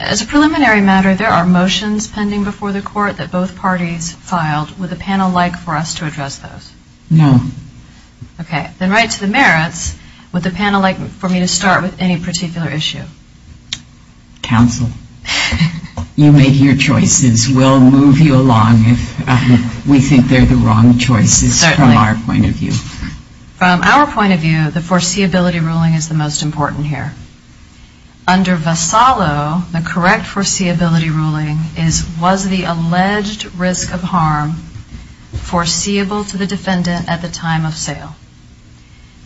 As a preliminary matter, there are motions pending before the Court that both parties filed. Would the panel like for us to address those? No. Okay. Then right to the merits, would the panel like for me to start with any particular issue? Counsel, you make your choices. We'll move you along if we think they're the wrong choices from our point of view. From our point of view, the foreseeability ruling is the most important here. Under Vassallo, the correct foreseeability ruling is, was the alleged risk of harm foreseeable to the defendant at the time of sale?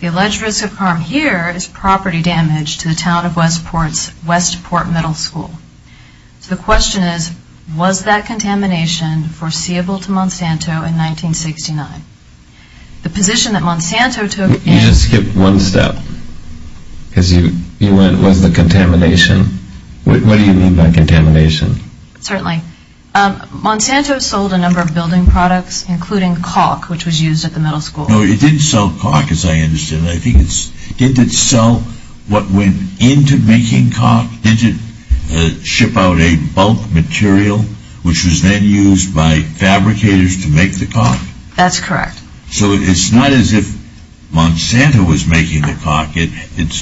The alleged risk of harm here is property damage to the town of Westport Middle School. So the question is, was that contamination foreseeable to Monsanto in 1969? The position that Monsanto took in You just skipped one step, because you went, was the contamination? What do you mean by contamination? Certainly. Monsanto sold a number of building products, including caulk, which was used at the middle school. No, it didn't sell caulk, as I understand it. I think it's, did it sell what went into making caulk? Did it ship out a bulk material, which was then used by fabricators to make the caulk? That's correct. So it's not as if Monsanto was making the caulk. It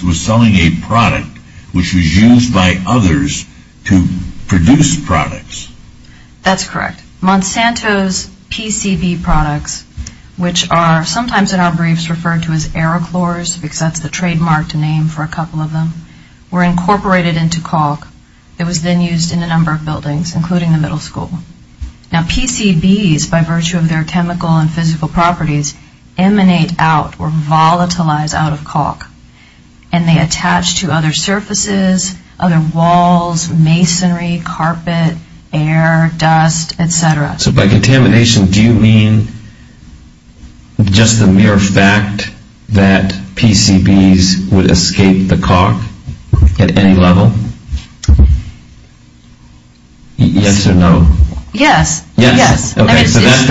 was selling a product, which was used by others to produce products. That's correct. Monsanto's PCB products, which are sometimes in our briefs referred to as were incorporated into caulk. It was then used in a number of buildings, including the middle school. Now, PCBs, by virtue of their chemical and physical properties, emanate out or volatilize out of caulk. And they attach to other surfaces, other walls, masonry, carpet, air, dust, etc. So by contamination, do you mean just the mere fact that PCBs would escape the caulk at any level? Yes or no? Yes. Yes? Yes. Okay, so that's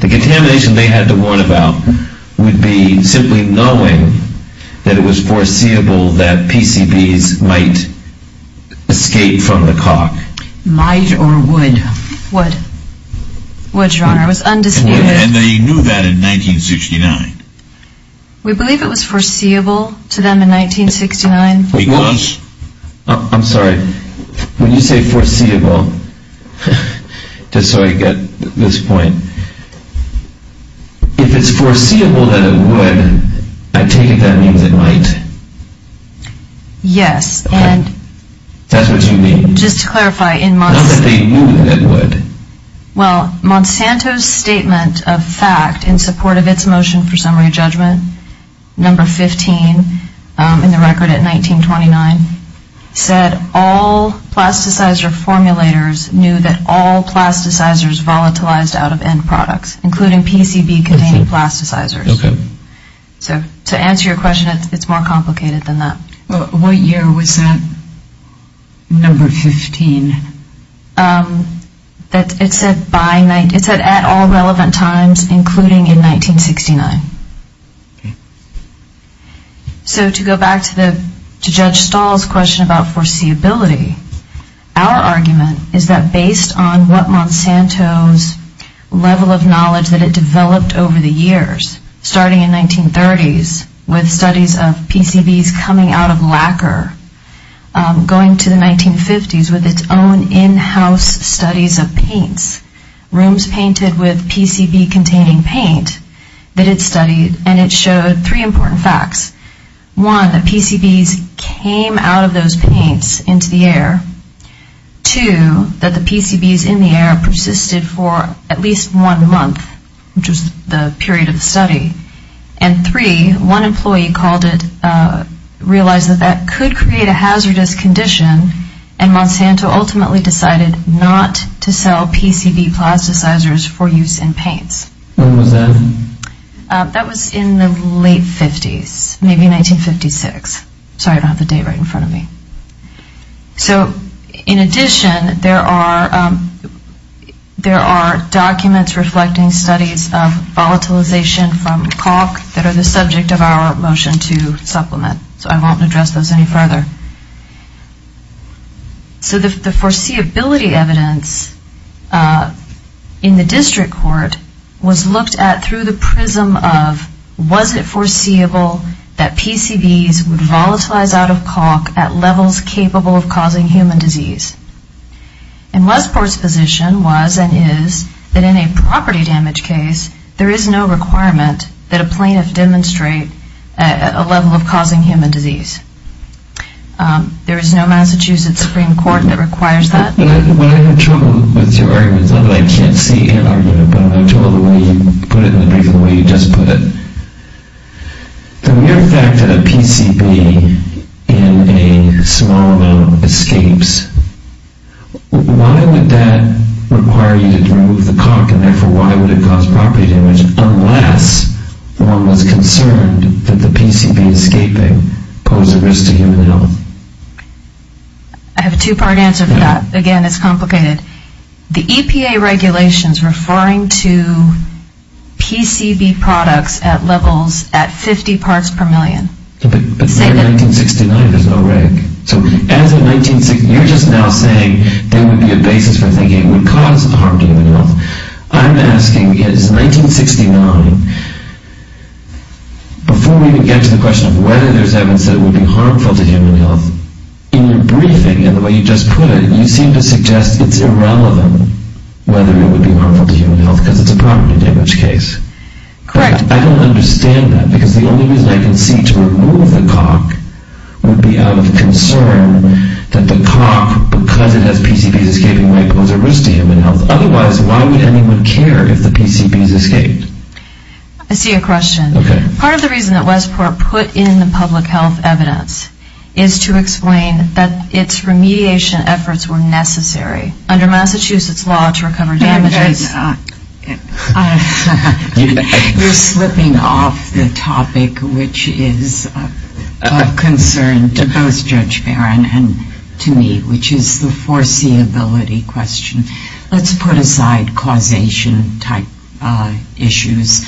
the contamination they had to warn about would be simply knowing that it was foreseeable that PCBs might escape from the caulk. Might or would. Would. Would, Your Honor. It was undisputed. Would. And they knew that in 1969. We believe it was foreseeable to them in 1969. Because? I'm sorry. When you say foreseeable, just so I get this point, if it's foreseeable that it would, I take it that means it might? Yes. Okay. That's what you mean? Just to clarify, in Monsanto. Well, Monsanto's statement of fact in support of its motion for summary judgment, number 15, in the record at 1929, said all plasticizer formulators knew that all plasticizers volatilized out of end products, including PCB containing plasticizers. Okay. So to answer your question, it's more complicated than that. What year was that number 15? It said by, it said at all relevant times, including in 1969. Okay. So to go back to Judge Stahl's question about foreseeability, our argument is that based on what Monsanto's level of knowledge that it developed over the years, starting in 1930s with studies of PCBs coming out of lacquer, going to the 1950s with its own in-house studies of paints, rooms painted with PCB containing paint that it studied, and it showed three important facts. One, that PCBs came out of those paints into the air. Two, that the PCBs in the air persisted for at least one month, which was the period of study. And three, one employee called it, realized that that could create a hazardous condition, and Monsanto ultimately decided not to sell PCB plasticizers for use in paints. When was that? That was in the late 50s, maybe 1956. Sorry, I don't have the date right in front of me. So in addition, there are documents reflecting studies of volatilization from caulk that are the subject of our motion to supplement, so I won't address those any further. So the foreseeability evidence in the district court was looked at through the prism of was it foreseeable that PCBs would volatilize out of caulk at levels capable of causing human disease? And Westport's position was and is that in a property damage case, there is no requirement that a plaintiff demonstrate a level of causing human disease. There is no Massachusetts Supreme Court that requires that? When I have trouble with your arguments, not that I can't see an argument, but I'm not sure of the way you put it in the brief, the way you just put it. The mere fact that a PCB in a small amount escapes, why would that require you to remove the caulk, and therefore why would it cause property damage, unless one was concerned that the PCB escaping posed a risk to human health? I have a two-part answer for that. Again, it's complicated. The EPA regulations referring to PCB products at levels at 50 parts per million. But by 1969, there's no reg. So as of 1960, you're just now saying there would be a basis for thinking it would cause harm to human health. I'm asking, is 1969, before we even get to the question of whether there's evidence that PCBs escaping would be harmful to human health, in your briefing and the way you just put it, you seem to suggest it's irrelevant whether it would be harmful to human health, because it's a property damage case. Correct. But I don't understand that, because the only reason I can see to remove the caulk would be out of concern that the caulk, because it has PCBs escaping, might pose a risk to human health. Otherwise, why would anyone care if the PCBs escaped? I see your question. Okay. Part of the reason that Westport put in the public health evidence is to explain that its remediation efforts were necessary under Massachusetts law to recover damages. You're slipping off the topic, which is of concern to both Judge Barron and to me, which is the foreseeability question. Let's put aside causation-type issues.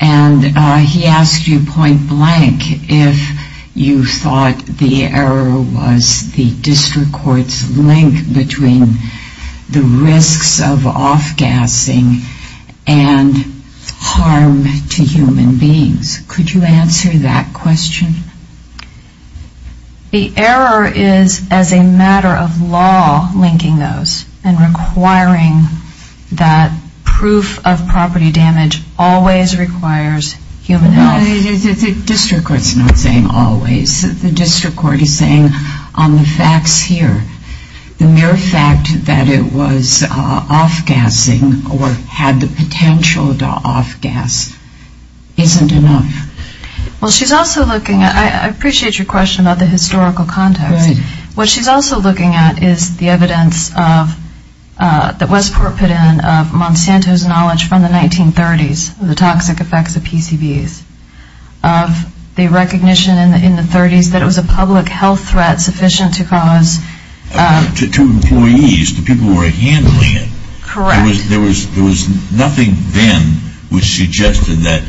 And he asked you point blank if you thought the error was the district court's link between the risks of off-gassing and harm to human beings. Could you answer that question? The error is as a matter of law linking those and requiring that proof of property damage always requires human health. The district court is not saying always. The district court is saying on the facts here. The mere fact that it was off-gassing or had the potential to off-gas isn't enough. I appreciate your question about the historical context. What she's also looking at is the evidence that Westport put in of Monsanto's knowledge from the 1930s, the toxic effects of PCBs, of the recognition in the 30s that it was a public health threat sufficient to cause... To employees, the people who were handling it. Correct. There was nothing then which suggested that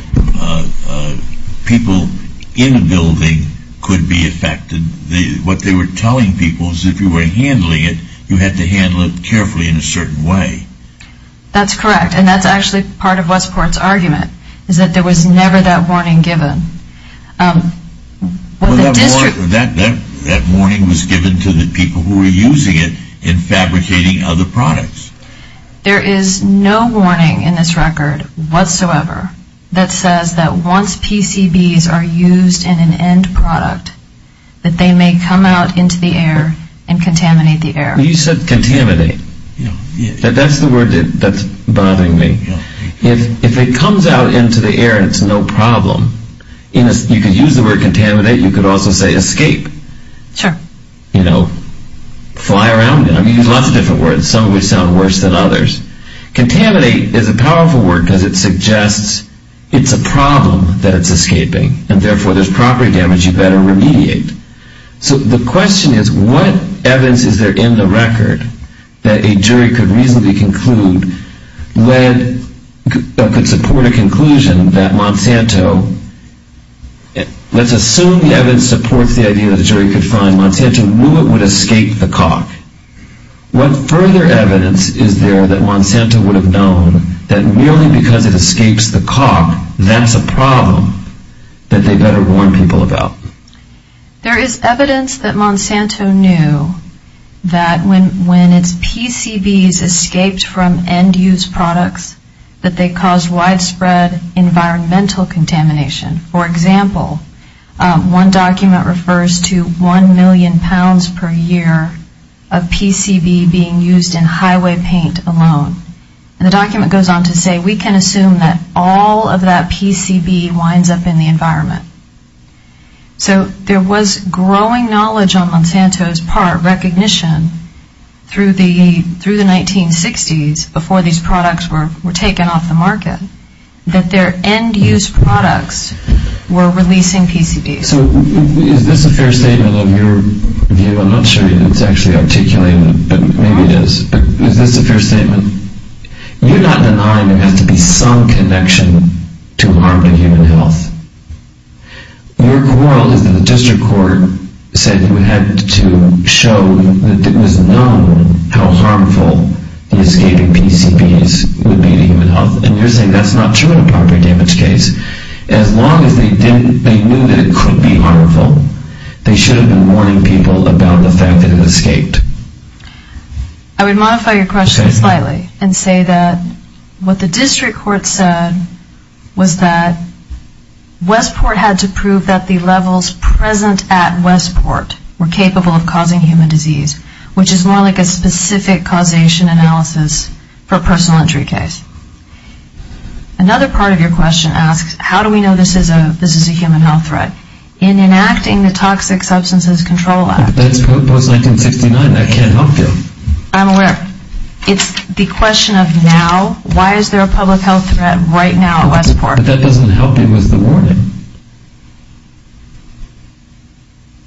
people in a building could be affected. What they were telling people is if you were handling it, you had to handle it carefully in a certain way. That's correct. And that's actually part of Westport's argument is that there was never that warning given. That warning was given to the people who were using it in fabricating other products. There is no warning in this record whatsoever that says that once PCBs are used in an end product that they may come out into the air and contaminate the air. You said contaminate. That's the word that's bothering me. If it comes out into the air and it's no problem, you could use the word contaminate, you could also say escape. Sure. Fly around in them. You could use lots of different words. Some would sound worse than others. Contaminate is a powerful word because it suggests it's a problem that it's escaping and therefore there's property damage you better remediate. So the question is what evidence is there in the record that a jury could reasonably conclude could support a conclusion that Monsanto... Let's assume the evidence supports the idea that a jury could find Monsanto knew it would escape the caulk. What further evidence is there that Monsanto would have known that merely because it escapes the caulk that's a problem that they better warn people about? There is evidence that Monsanto knew that when its PCBs escaped from end-use products that they caused widespread environmental contamination. For example, one document refers to 1 million pounds per year of PCB being used in highway paint alone. The document goes on to say we can assume that all of that PCB winds up in the environment. So there was growing knowledge on Monsanto's part, recognition through the 1960s before these products were taken off the market, that their end-use products were releasing PCBs. So is this a fair statement of your view? I'm not sure it's actually articulating it, but maybe it is. But is this a fair statement? You're not denying there has to be some connection to harm to human health. Your quarrel is that the district court said you had to show that it was known how harmful the escaping PCBs would be to human health. And you're saying that's not true in a property damage case. As long as they knew that it could be harmful, they should have been warning people about the fact that it escaped. I would modify your question slightly and say that what the district court said was that Westport had to prove that the levels present at Westport were capable of causing human disease, which is more like a specific causation analysis for a personal injury case. Another part of your question asks how do we know this is a human health threat? In enacting the Toxic Substances Control Act... That's post-1969. That can't help you. I'm aware. It's the question of now. Why is there a public health threat right now at Westport? But that doesn't help you with the warning.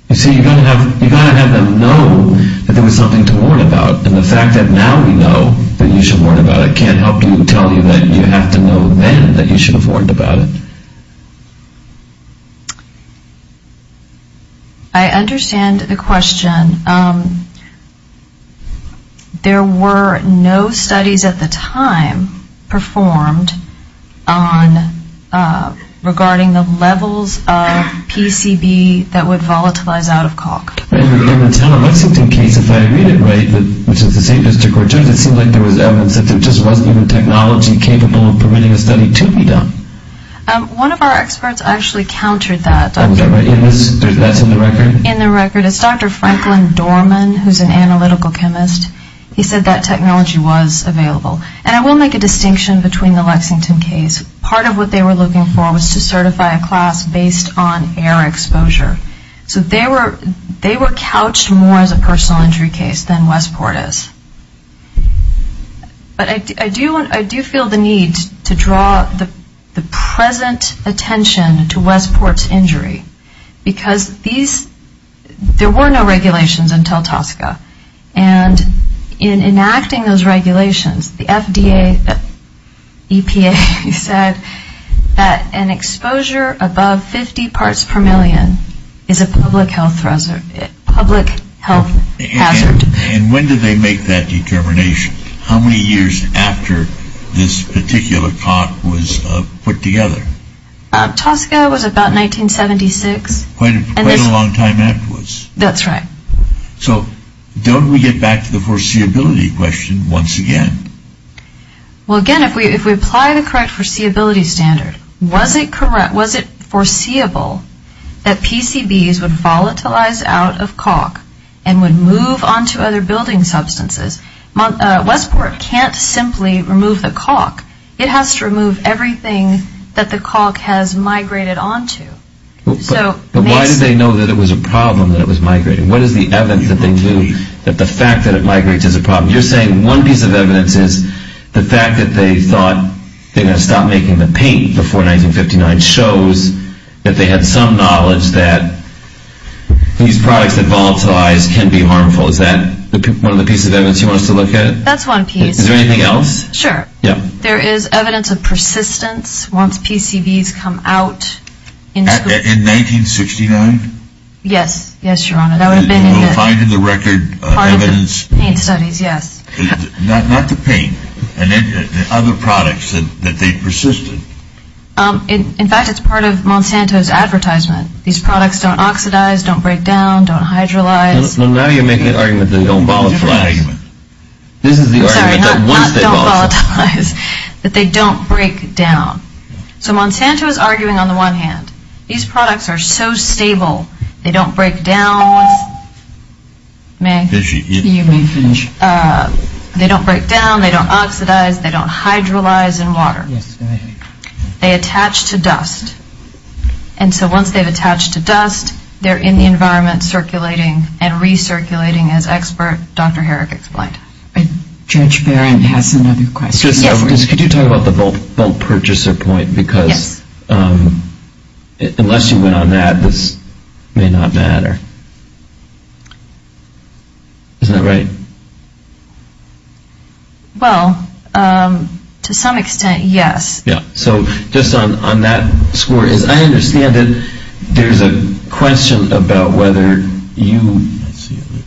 You see, you've got to have them know that there was something to warn about. And the fact that now we know that you should warn about it can't help you tell you that you have to know then that you should have warned about it. I understand the question. There were no studies at the time performed on... regarding the levels of PCB that would volatilize out of caulk. In the Tana Lexington case, if I read it right, which was the same district court judge, it seemed like there was evidence that there just wasn't even technology capable of permitting a study to be done. One of our experts actually countered that. Is that right? That's in the record? In the record. It's Dr. Franklin Dorman, who's an analytical chemist. He said that technology was available. And I will make a distinction between the Lexington case. Part of what they were looking for was to certify a class based on air exposure. So they were couched more as a personal injury case than Westport is. But I do feel the need to draw the present attention to Westport's injury because there were no regulations until Tosca. And in enacting those regulations, the FDA...EPA said that an exposure above 50 parts per million is a public health hazard. And when did they make that determination? How many years after this particular pot was put together? Tosca was about 1976. Quite a long time afterwards. That's right. So don't we get back to the foreseeability question once again? Well, again, if we apply the correct foreseeability standard, was it foreseeable that PCBs would volatilize out of caulk and would move on to other building substances? Westport can't simply remove the caulk. It has to remove everything that the caulk has migrated on to. But why did they know that it was a problem that it was migrating? What is the evidence that they knew that the fact that it migrates is a problem? You're saying one piece of evidence is the fact that they thought they were going to stop making the paint before 1959 shows that they had some knowledge that these products that volatilize can be harmful. Is that one of the pieces of evidence you want us to look at? That's one piece. Is there anything else? Sure. There is evidence of persistence once PCBs come out. In 1969? Yes. Yes, Your Honor. That would have been in the record of evidence. Part of the paint studies, yes. Not the paint. Other products that they persisted. In fact, it's part of Monsanto's advertisement. These products don't oxidize, don't break down, don't hydrolyze. Now you're making an argument that they don't volatilize. I'm sorry. Not that they don't volatilize. That they don't break down. So Monsanto is arguing on the one hand, these products are so stable, they don't break down, they don't break down, they don't oxidize, they don't hydrolyze in water. They attach to dust. And so once they've attached to dust, they're in the environment circulating and recirculating as expert Dr. Herrick explained. Judge Barron has another question. Could you talk about the bulk purchaser point? Because unless you went on that, this may not matter. Isn't that right? Well, to some extent, yes. So just on that score, there's a question about whether you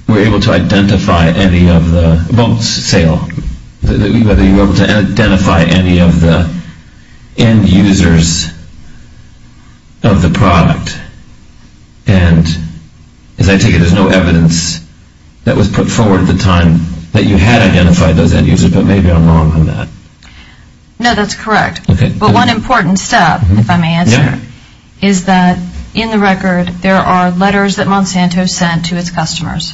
were able to identify any of the bulk sale, whether you were able to identify any of the end users of the product. And as I take it, there's no evidence that was put forward at the time that you had identified those end users, but maybe I'm wrong on that. No, that's correct. But one important step, if I may answer, is that in the record, there are letters that Monsanto sent to its customers.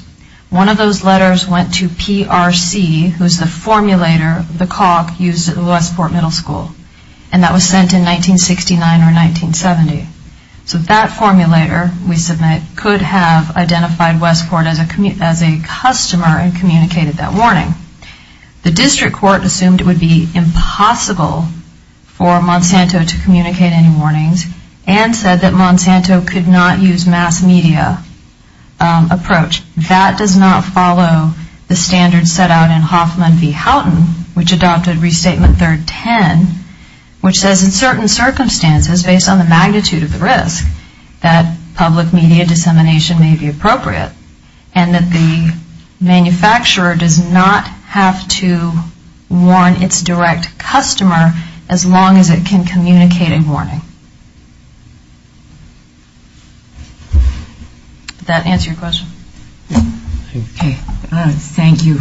One of those letters went to PRC, who is the formulator the COC used at the Westport Middle School, and that was sent in 1969 or 1970. So that formulator we submit could have identified Westport as a customer and communicated that warning. The district court assumed it would be impossible for Monsanto to communicate any warnings and said that Monsanto could not use mass media approach. That does not follow the standards set out in Hoffman v. Houghton, which adopted Restatement 310, which says in certain circumstances, based on the magnitude of the risk, that public media dissemination may be appropriate and that the manufacturer does not have to warn its direct customer as long as it can communicate a warning. Does that answer your question? Okay. Thank you.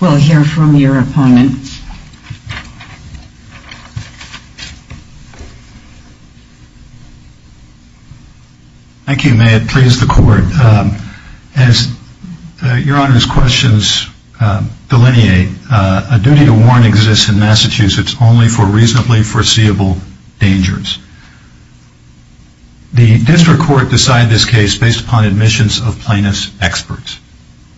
We'll hear from your opponent. Thank you, Mayor. Please, the court. As your Honor's questions delineate, a duty to warn exists in Massachusetts only for reasonably foreseeable dangers. The district court decided this case based upon admissions of plaintiff's experts.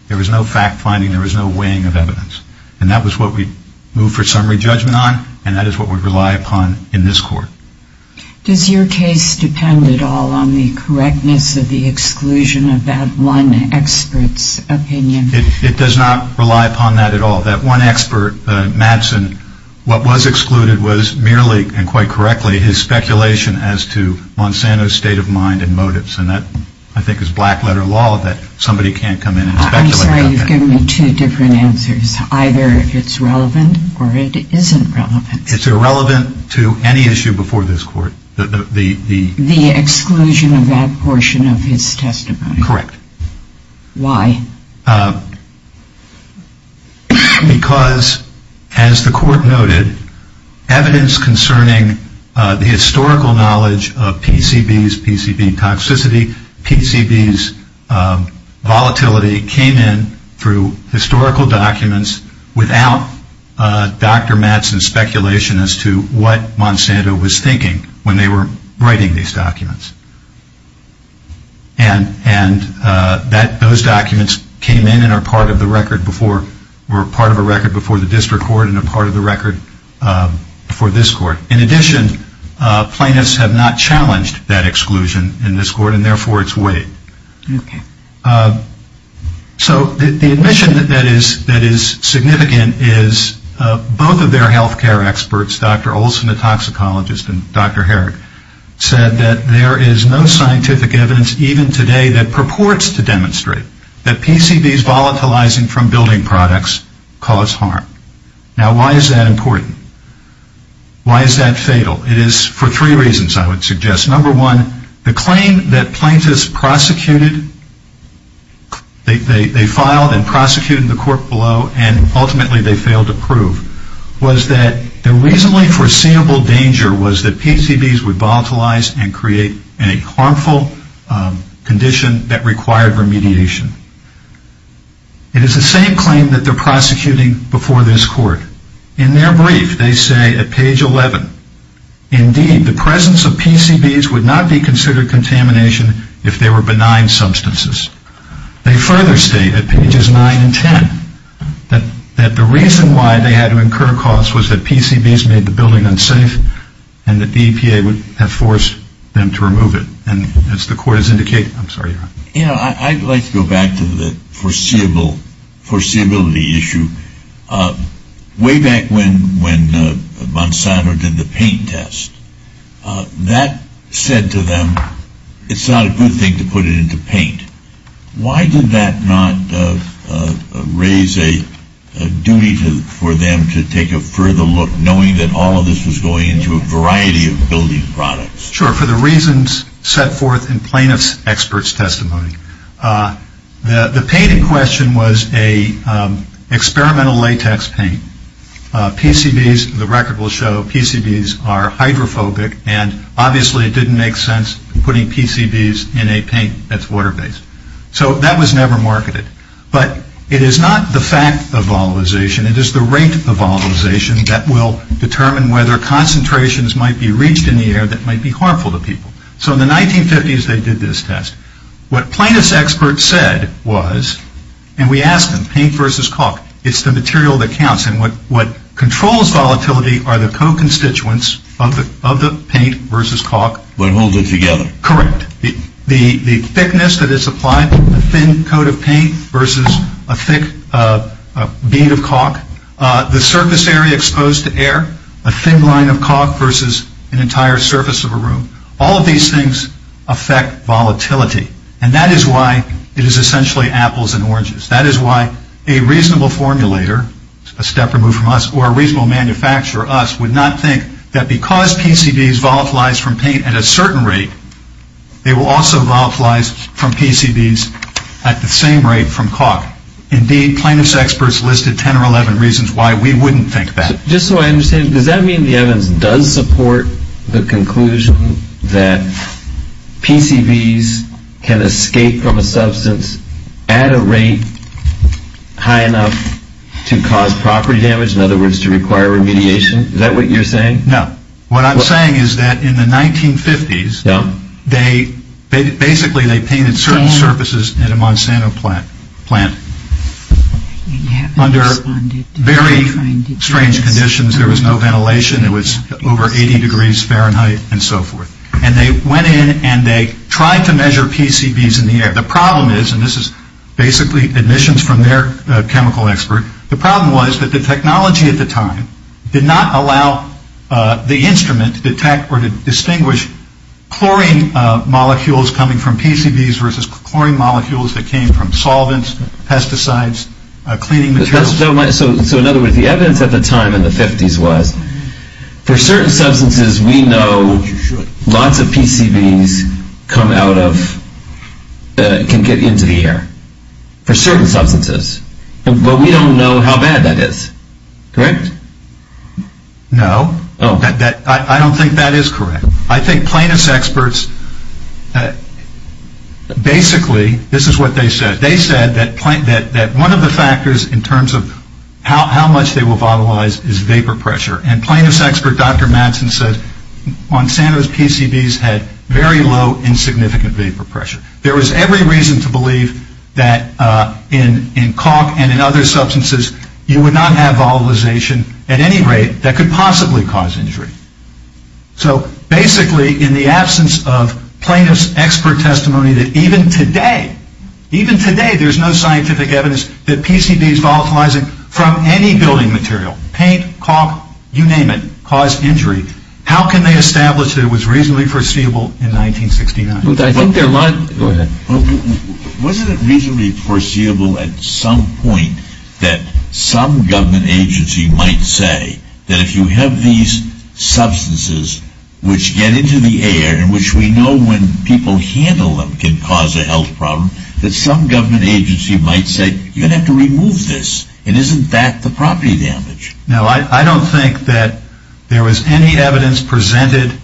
There was no fact-finding. There was no weighing of evidence. And that was what we moved for summary judgment on, and that is what we rely upon in this court. Does your case depend at all on the correctness of the exclusion of that one expert's opinion? It does not rely upon that at all. That one expert, Madsen, what was excluded was merely, and quite correctly, his speculation as to Monsanto's state of mind and motives. And that, I think, is black-letter law that somebody can't come in and speculate about that. I'm sorry. You've given me two different answers. Either it's relevant or it isn't relevant. It's irrelevant to any issue before this court. The exclusion of that portion of his testimony. Correct. Why? Because, as the court noted, evidence concerning the historical knowledge of PCBs, PCB toxicity, PCB's volatility came in through historical documents without Dr. Madsen's speculation as to what Monsanto was thinking when they were writing these documents. And those documents came in and are part of a record before the district court and a part of the record before this court. In addition, plaintiffs have not challenged that exclusion in this court and, therefore, its weight. So the admission that is significant is both of their healthcare experts, Dr. Olson, the toxicologist, and Dr. Herrick, said that there is no scientific evidence even today that purports to demonstrate that PCBs volatilizing from building products cause harm. Now, why is that important? Why is that fatal? It is for three reasons, I would suggest. Number one, the claim that plaintiffs prosecuted, they filed and prosecuted in the court below and ultimately they failed to prove, was that the reasonably foreseeable danger was that PCBs would volatilize and create a harmful condition that required remediation. It is the same claim that they are prosecuting before this court. In their brief, they say at page 11, indeed, the presence of PCBs would not be considered contamination if they were benign substances. They further state at pages 9 and 10, that the reason why they had to incur costs was that PCBs made the building unsafe and that the EPA would have forced them to remove it. And as the court has indicated, I'm sorry, Your Honor. You know, I'd like to go back to the foreseeability issue. Way back when Monsanto did the paint test, that said to them it's not a good thing to put it into paint. Why did that not raise a duty for them to take a further look, knowing that all of this was going into a variety of building products? Sure. For the reasons set forth in plaintiff's expert's testimony. The paint in question was a experimental latex paint. PCBs, the record will show, PCBs are hydrophobic and obviously it didn't make sense putting PCBs in a paint that's water-based. So that was never marketed. But it is not the fact of volumization. It is the rate of volumization that will determine whether concentrations might be reached in the air that might be harmful to people. So in the 1950s, they did this test. What plaintiff's expert said was, and we asked them, paint versus caulk. It's the material that counts. And what controls volatility are the co-constituents of the paint versus caulk. But hold it together. Correct. The thickness that is applied, a thin coat of paint versus a thick bead of caulk. The surface area exposed to air, a thin line of caulk versus an entire surface of a room. All of these things affect volatility. And that is why it is essentially apples and oranges. That is why a reasonable formulator, a step removed from us, or a reasonable manufacturer, us, would not think that because PCBs volatilize from paint at a certain rate, they will also volatilize from PCBs at the same rate from caulk. Indeed, plaintiff's experts listed 10 or 11 reasons why we wouldn't think that. Just so I understand, does that mean the evidence does support the conclusion that PCBs can escape from a substance at a rate high enough to cause property damage, in other words, to require remediation? Is that what you're saying? No. What I'm saying is that in the 1950s, basically they painted certain surfaces at a Monsanto plant under very strange conditions. There was no ventilation. It was over 80 degrees Fahrenheit and so forth. And they went in and they tried to measure PCBs in the air. The problem is, and this is basically admissions from their chemical expert, the problem was that the technology at the time did not allow the instrument to detect or to distinguish chlorine molecules coming from PCBs versus chlorine molecules that came from solvents, pesticides, cleaning materials. So in other words, the evidence at the time in the 1950s was, for certain substances we know lots of PCBs can get into the air. For certain substances. But we don't know how bad that is. Correct? No. I don't think that is correct. I think plaintiff's experts, basically, this is what they said. They said that one of the factors in terms of how much they will volatilize is vapor pressure. And plaintiff's expert, Dr. Madsen, said Monsanto's PCBs had very low insignificant vapor pressure. There was every reason to believe that in caulk and in other substances, you would not have volatilization at any rate that could possibly cause injury. So basically, in the absence of plaintiff's expert testimony that even today, even today there is no scientific evidence that PCBs volatilizing from any building material, paint, caulk, you name it, cause injury, how can they establish that it was reasonably foreseeable in 1969? I think there might, go ahead. Wasn't it reasonably foreseeable at some point that some government agency might say that if you have these substances which get into the air and which we know when people handle them can cause a health problem, that some government agency might say, you're going to have to remove this. And isn't that the property damage? No, I don't think that there was any evidence presented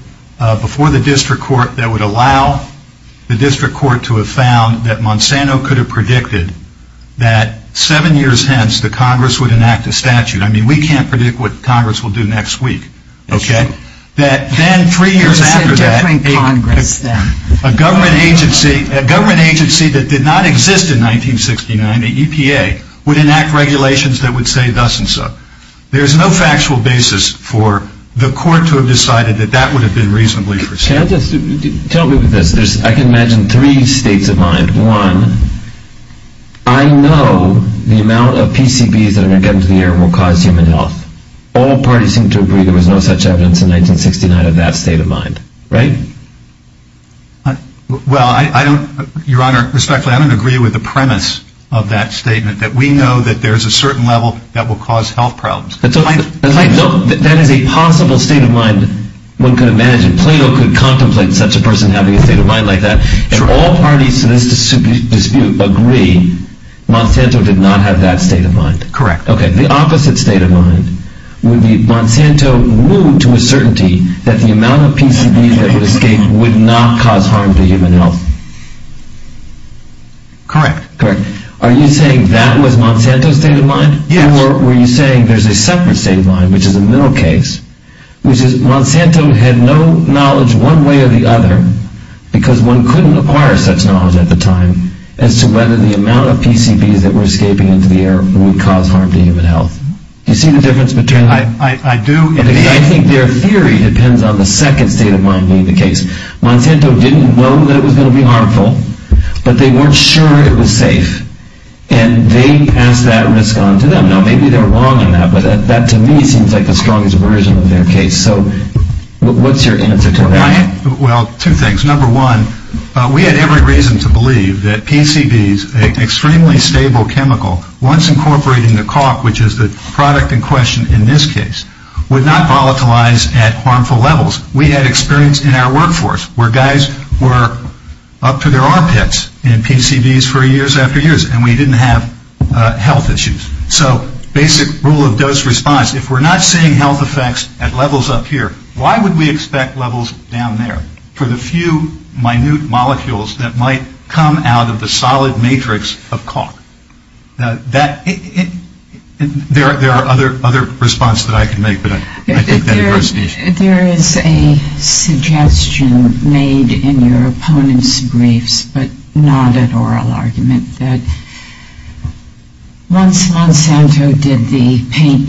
before the district court that would allow the district court to have found that Monsanto could have predicted that seven years hence the Congress would enact a statute. I mean, we can't predict what Congress will do next week. That then three years after that, a government agency that did not exist in 1969, the EPA, would enact regulations that would say thus and so. There is no factual basis for the court to have decided that that would have been reasonably foreseeable. Can I just, tell me with this, I can imagine three states of mind. One, I know the amount of PCBs that are going to get into the air will cause human health. All parties seem to agree there was no such evidence in 1969 of that state of mind. Right? Well, Your Honor, respectfully, I don't agree with the premise of that statement that we know that there is a certain level that will cause health problems. That is a possible state of mind one could imagine. Plato could contemplate such a person having a state of mind like that. All parties to this dispute agree Monsanto did not have that state of mind. Correct. Okay, the opposite state of mind would be Monsanto moved to a certainty that the amount of PCBs that would escape would not cause harm to human health. Correct. Correct. Are you saying that was Monsanto's state of mind? Yes. Or were you saying there is a separate state of mind which is a middle case, which is Monsanto had no knowledge one way or the other because one couldn't acquire such knowledge at the time as to whether the amount of PCBs that were escaping into the air would cause harm to human health. Do you see the difference between them? I do. I think their theory depends on the second state of mind being the case. Monsanto didn't know that it was going to be harmful, but they weren't sure it was safe. And they passed that risk on to them. Now, maybe they're wrong in that, but that to me seems like the strongest version of their case. So what's your answer to that? Well, two things. Number one, we had every reason to believe that PCBs, an extremely stable chemical once incorporating the caulk, which is the product in question in this case, would not volatilize at harmful levels. We had experience in our workforce where guys were up to their armpits in PCBs for years after years, and we didn't have health issues. So basic rule of dose response, if we're not seeing health effects at levels up here, why would we expect levels down there for the few minute molecules that might come out of the solid matrix of caulk? There are other responses that I can make, but I think that yours is easier. There is a suggestion made in your opponent's briefs, but not an oral argument, that once Monsanto did the paint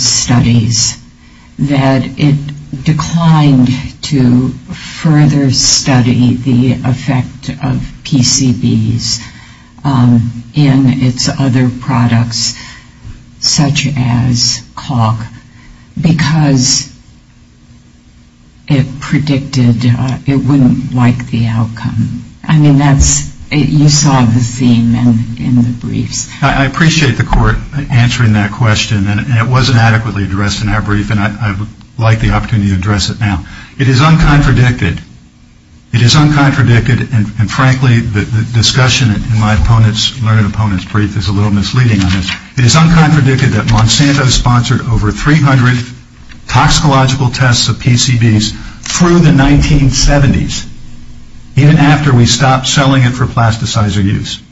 studies, that it declined to further study the effect of PCBs in its other products such as caulk because it predicted it wouldn't like the outcome. I mean, you saw the theme in the briefs. I appreciate the court answering that question, and it wasn't adequately addressed in our brief, and I would like the opportunity to address it now. It is uncontradicted, and frankly, the discussion in my learned opponent's brief is a little misleading on this. It is uncontradicted that Monsanto sponsored over 300 toxicological tests of PCBs through the 1970s, even after we stopped selling it for plasticizer use.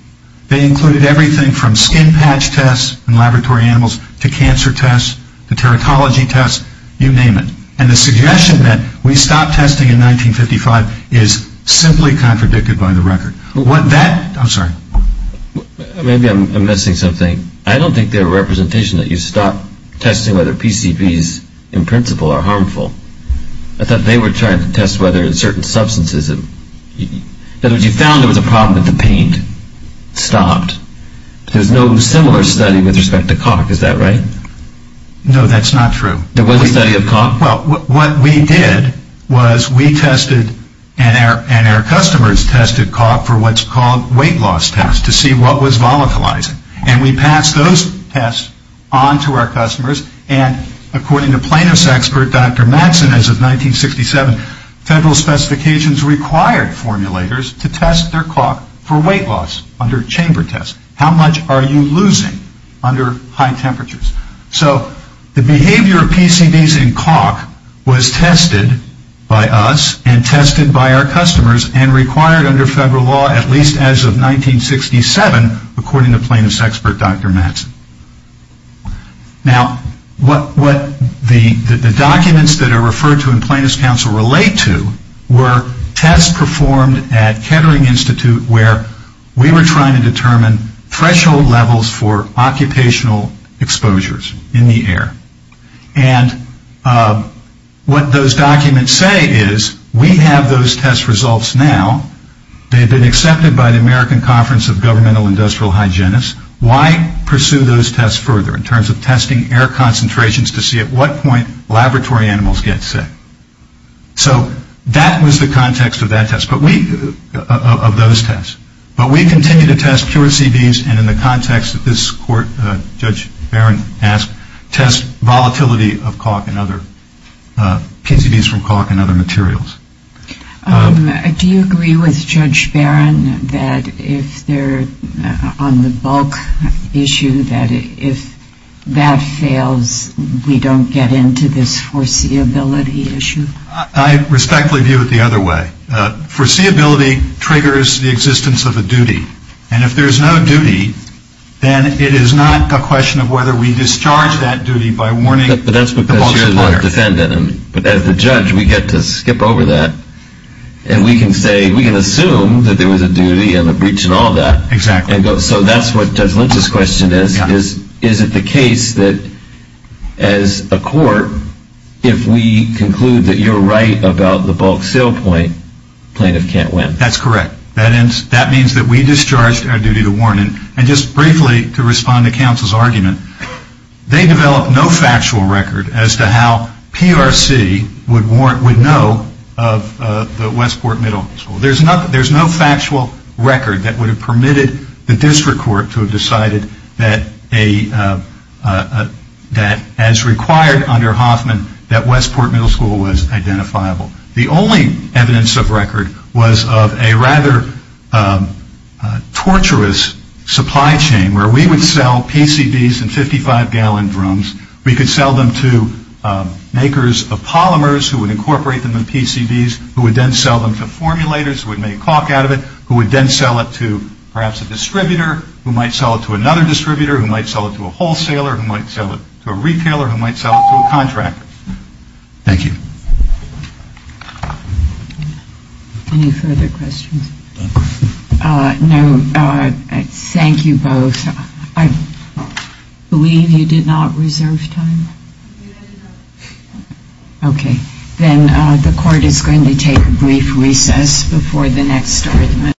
They included everything from skin patch tests in laboratory animals to cancer tests, to teratology tests, you name it. And the suggestion that we stop testing in 1955 is simply contradicted by the record. I'm sorry. Maybe I'm missing something. I don't think they're a representation that you stop testing whether PCBs in principle are harmful. I thought they were trying to test whether in certain substances... In other words, you found there was a problem with the paint. Stopped. There's no similar study with respect to caulk. Is that right? No, that's not true. There was a study of caulk? Well, what we did was we tested, and our customers tested caulk for what's called weight loss tests to see what was volatilizing. And we passed those tests on to our customers, and according to plaintiff's expert, Dr. Matson, as of 1967, federal specifications required formulators to test their caulk for weight loss under chamber tests. How much are you losing under high temperatures? So the behavior of PCBs in caulk was tested by us and tested by our customers and required under federal law at least as of 1967, according to plaintiff's expert, Dr. Matson. Now, what the documents that are referred to in Plaintiff's Counsel relate to were tests performed at Kettering Institute where we were trying to determine threshold levels for occupational exposures in the air. And what those documents say is we have those test results now. They've been accepted by the American Conference of Governmental Industrial Hygienists. Why pursue those tests further in terms of testing air concentrations to see at what point laboratory animals get sick? So that was the context of that test, of those tests. But we continue to test cured CBs, and in the context that this court, Judge Barron asked, test volatility of caulk and other PCBs from caulk and other materials. Do you agree with Judge Barron that if they're on the bulk issue, that if that fails, we don't get into this foreseeability issue? I respectfully view it the other way. Foreseeability triggers the existence of a duty, and if there's no duty, then it is not a question of whether we discharge that duty by warning the bulk supplier. But that's because you're the defendant, and as the judge, we get to skip over that. And we can say, we can assume that there was a duty and a breach and all that. Exactly. So that's what Judge Lynch's question is, is it the case that as a court, if we conclude that you're right about the bulk sale point, plaintiff can't win? That's correct. That means that we discharged our duty to warn. And just briefly, to respond to counsel's argument, they developed no factual record as to how PRC would know of the Westport Middle School. There's no factual record that would have permitted the district court to have decided that as required under Hoffman, that Westport Middle School was identifiable. The only evidence of record was of a rather torturous supply chain where we would sell PCBs in 55-gallon rooms. We could sell them to makers of polymers who would incorporate them in PCBs, who would then sell them to formulators who would make caulk out of it, who would then sell it to perhaps a distributor, who might sell it to another distributor, who might sell it to a wholesaler, who might sell it to a retailer, who might sell it to a contractor. Thank you. Any further questions? No. Thank you both. I believe you did not reserve time. Okay. Then the court is going to take a brief recess before the next argument.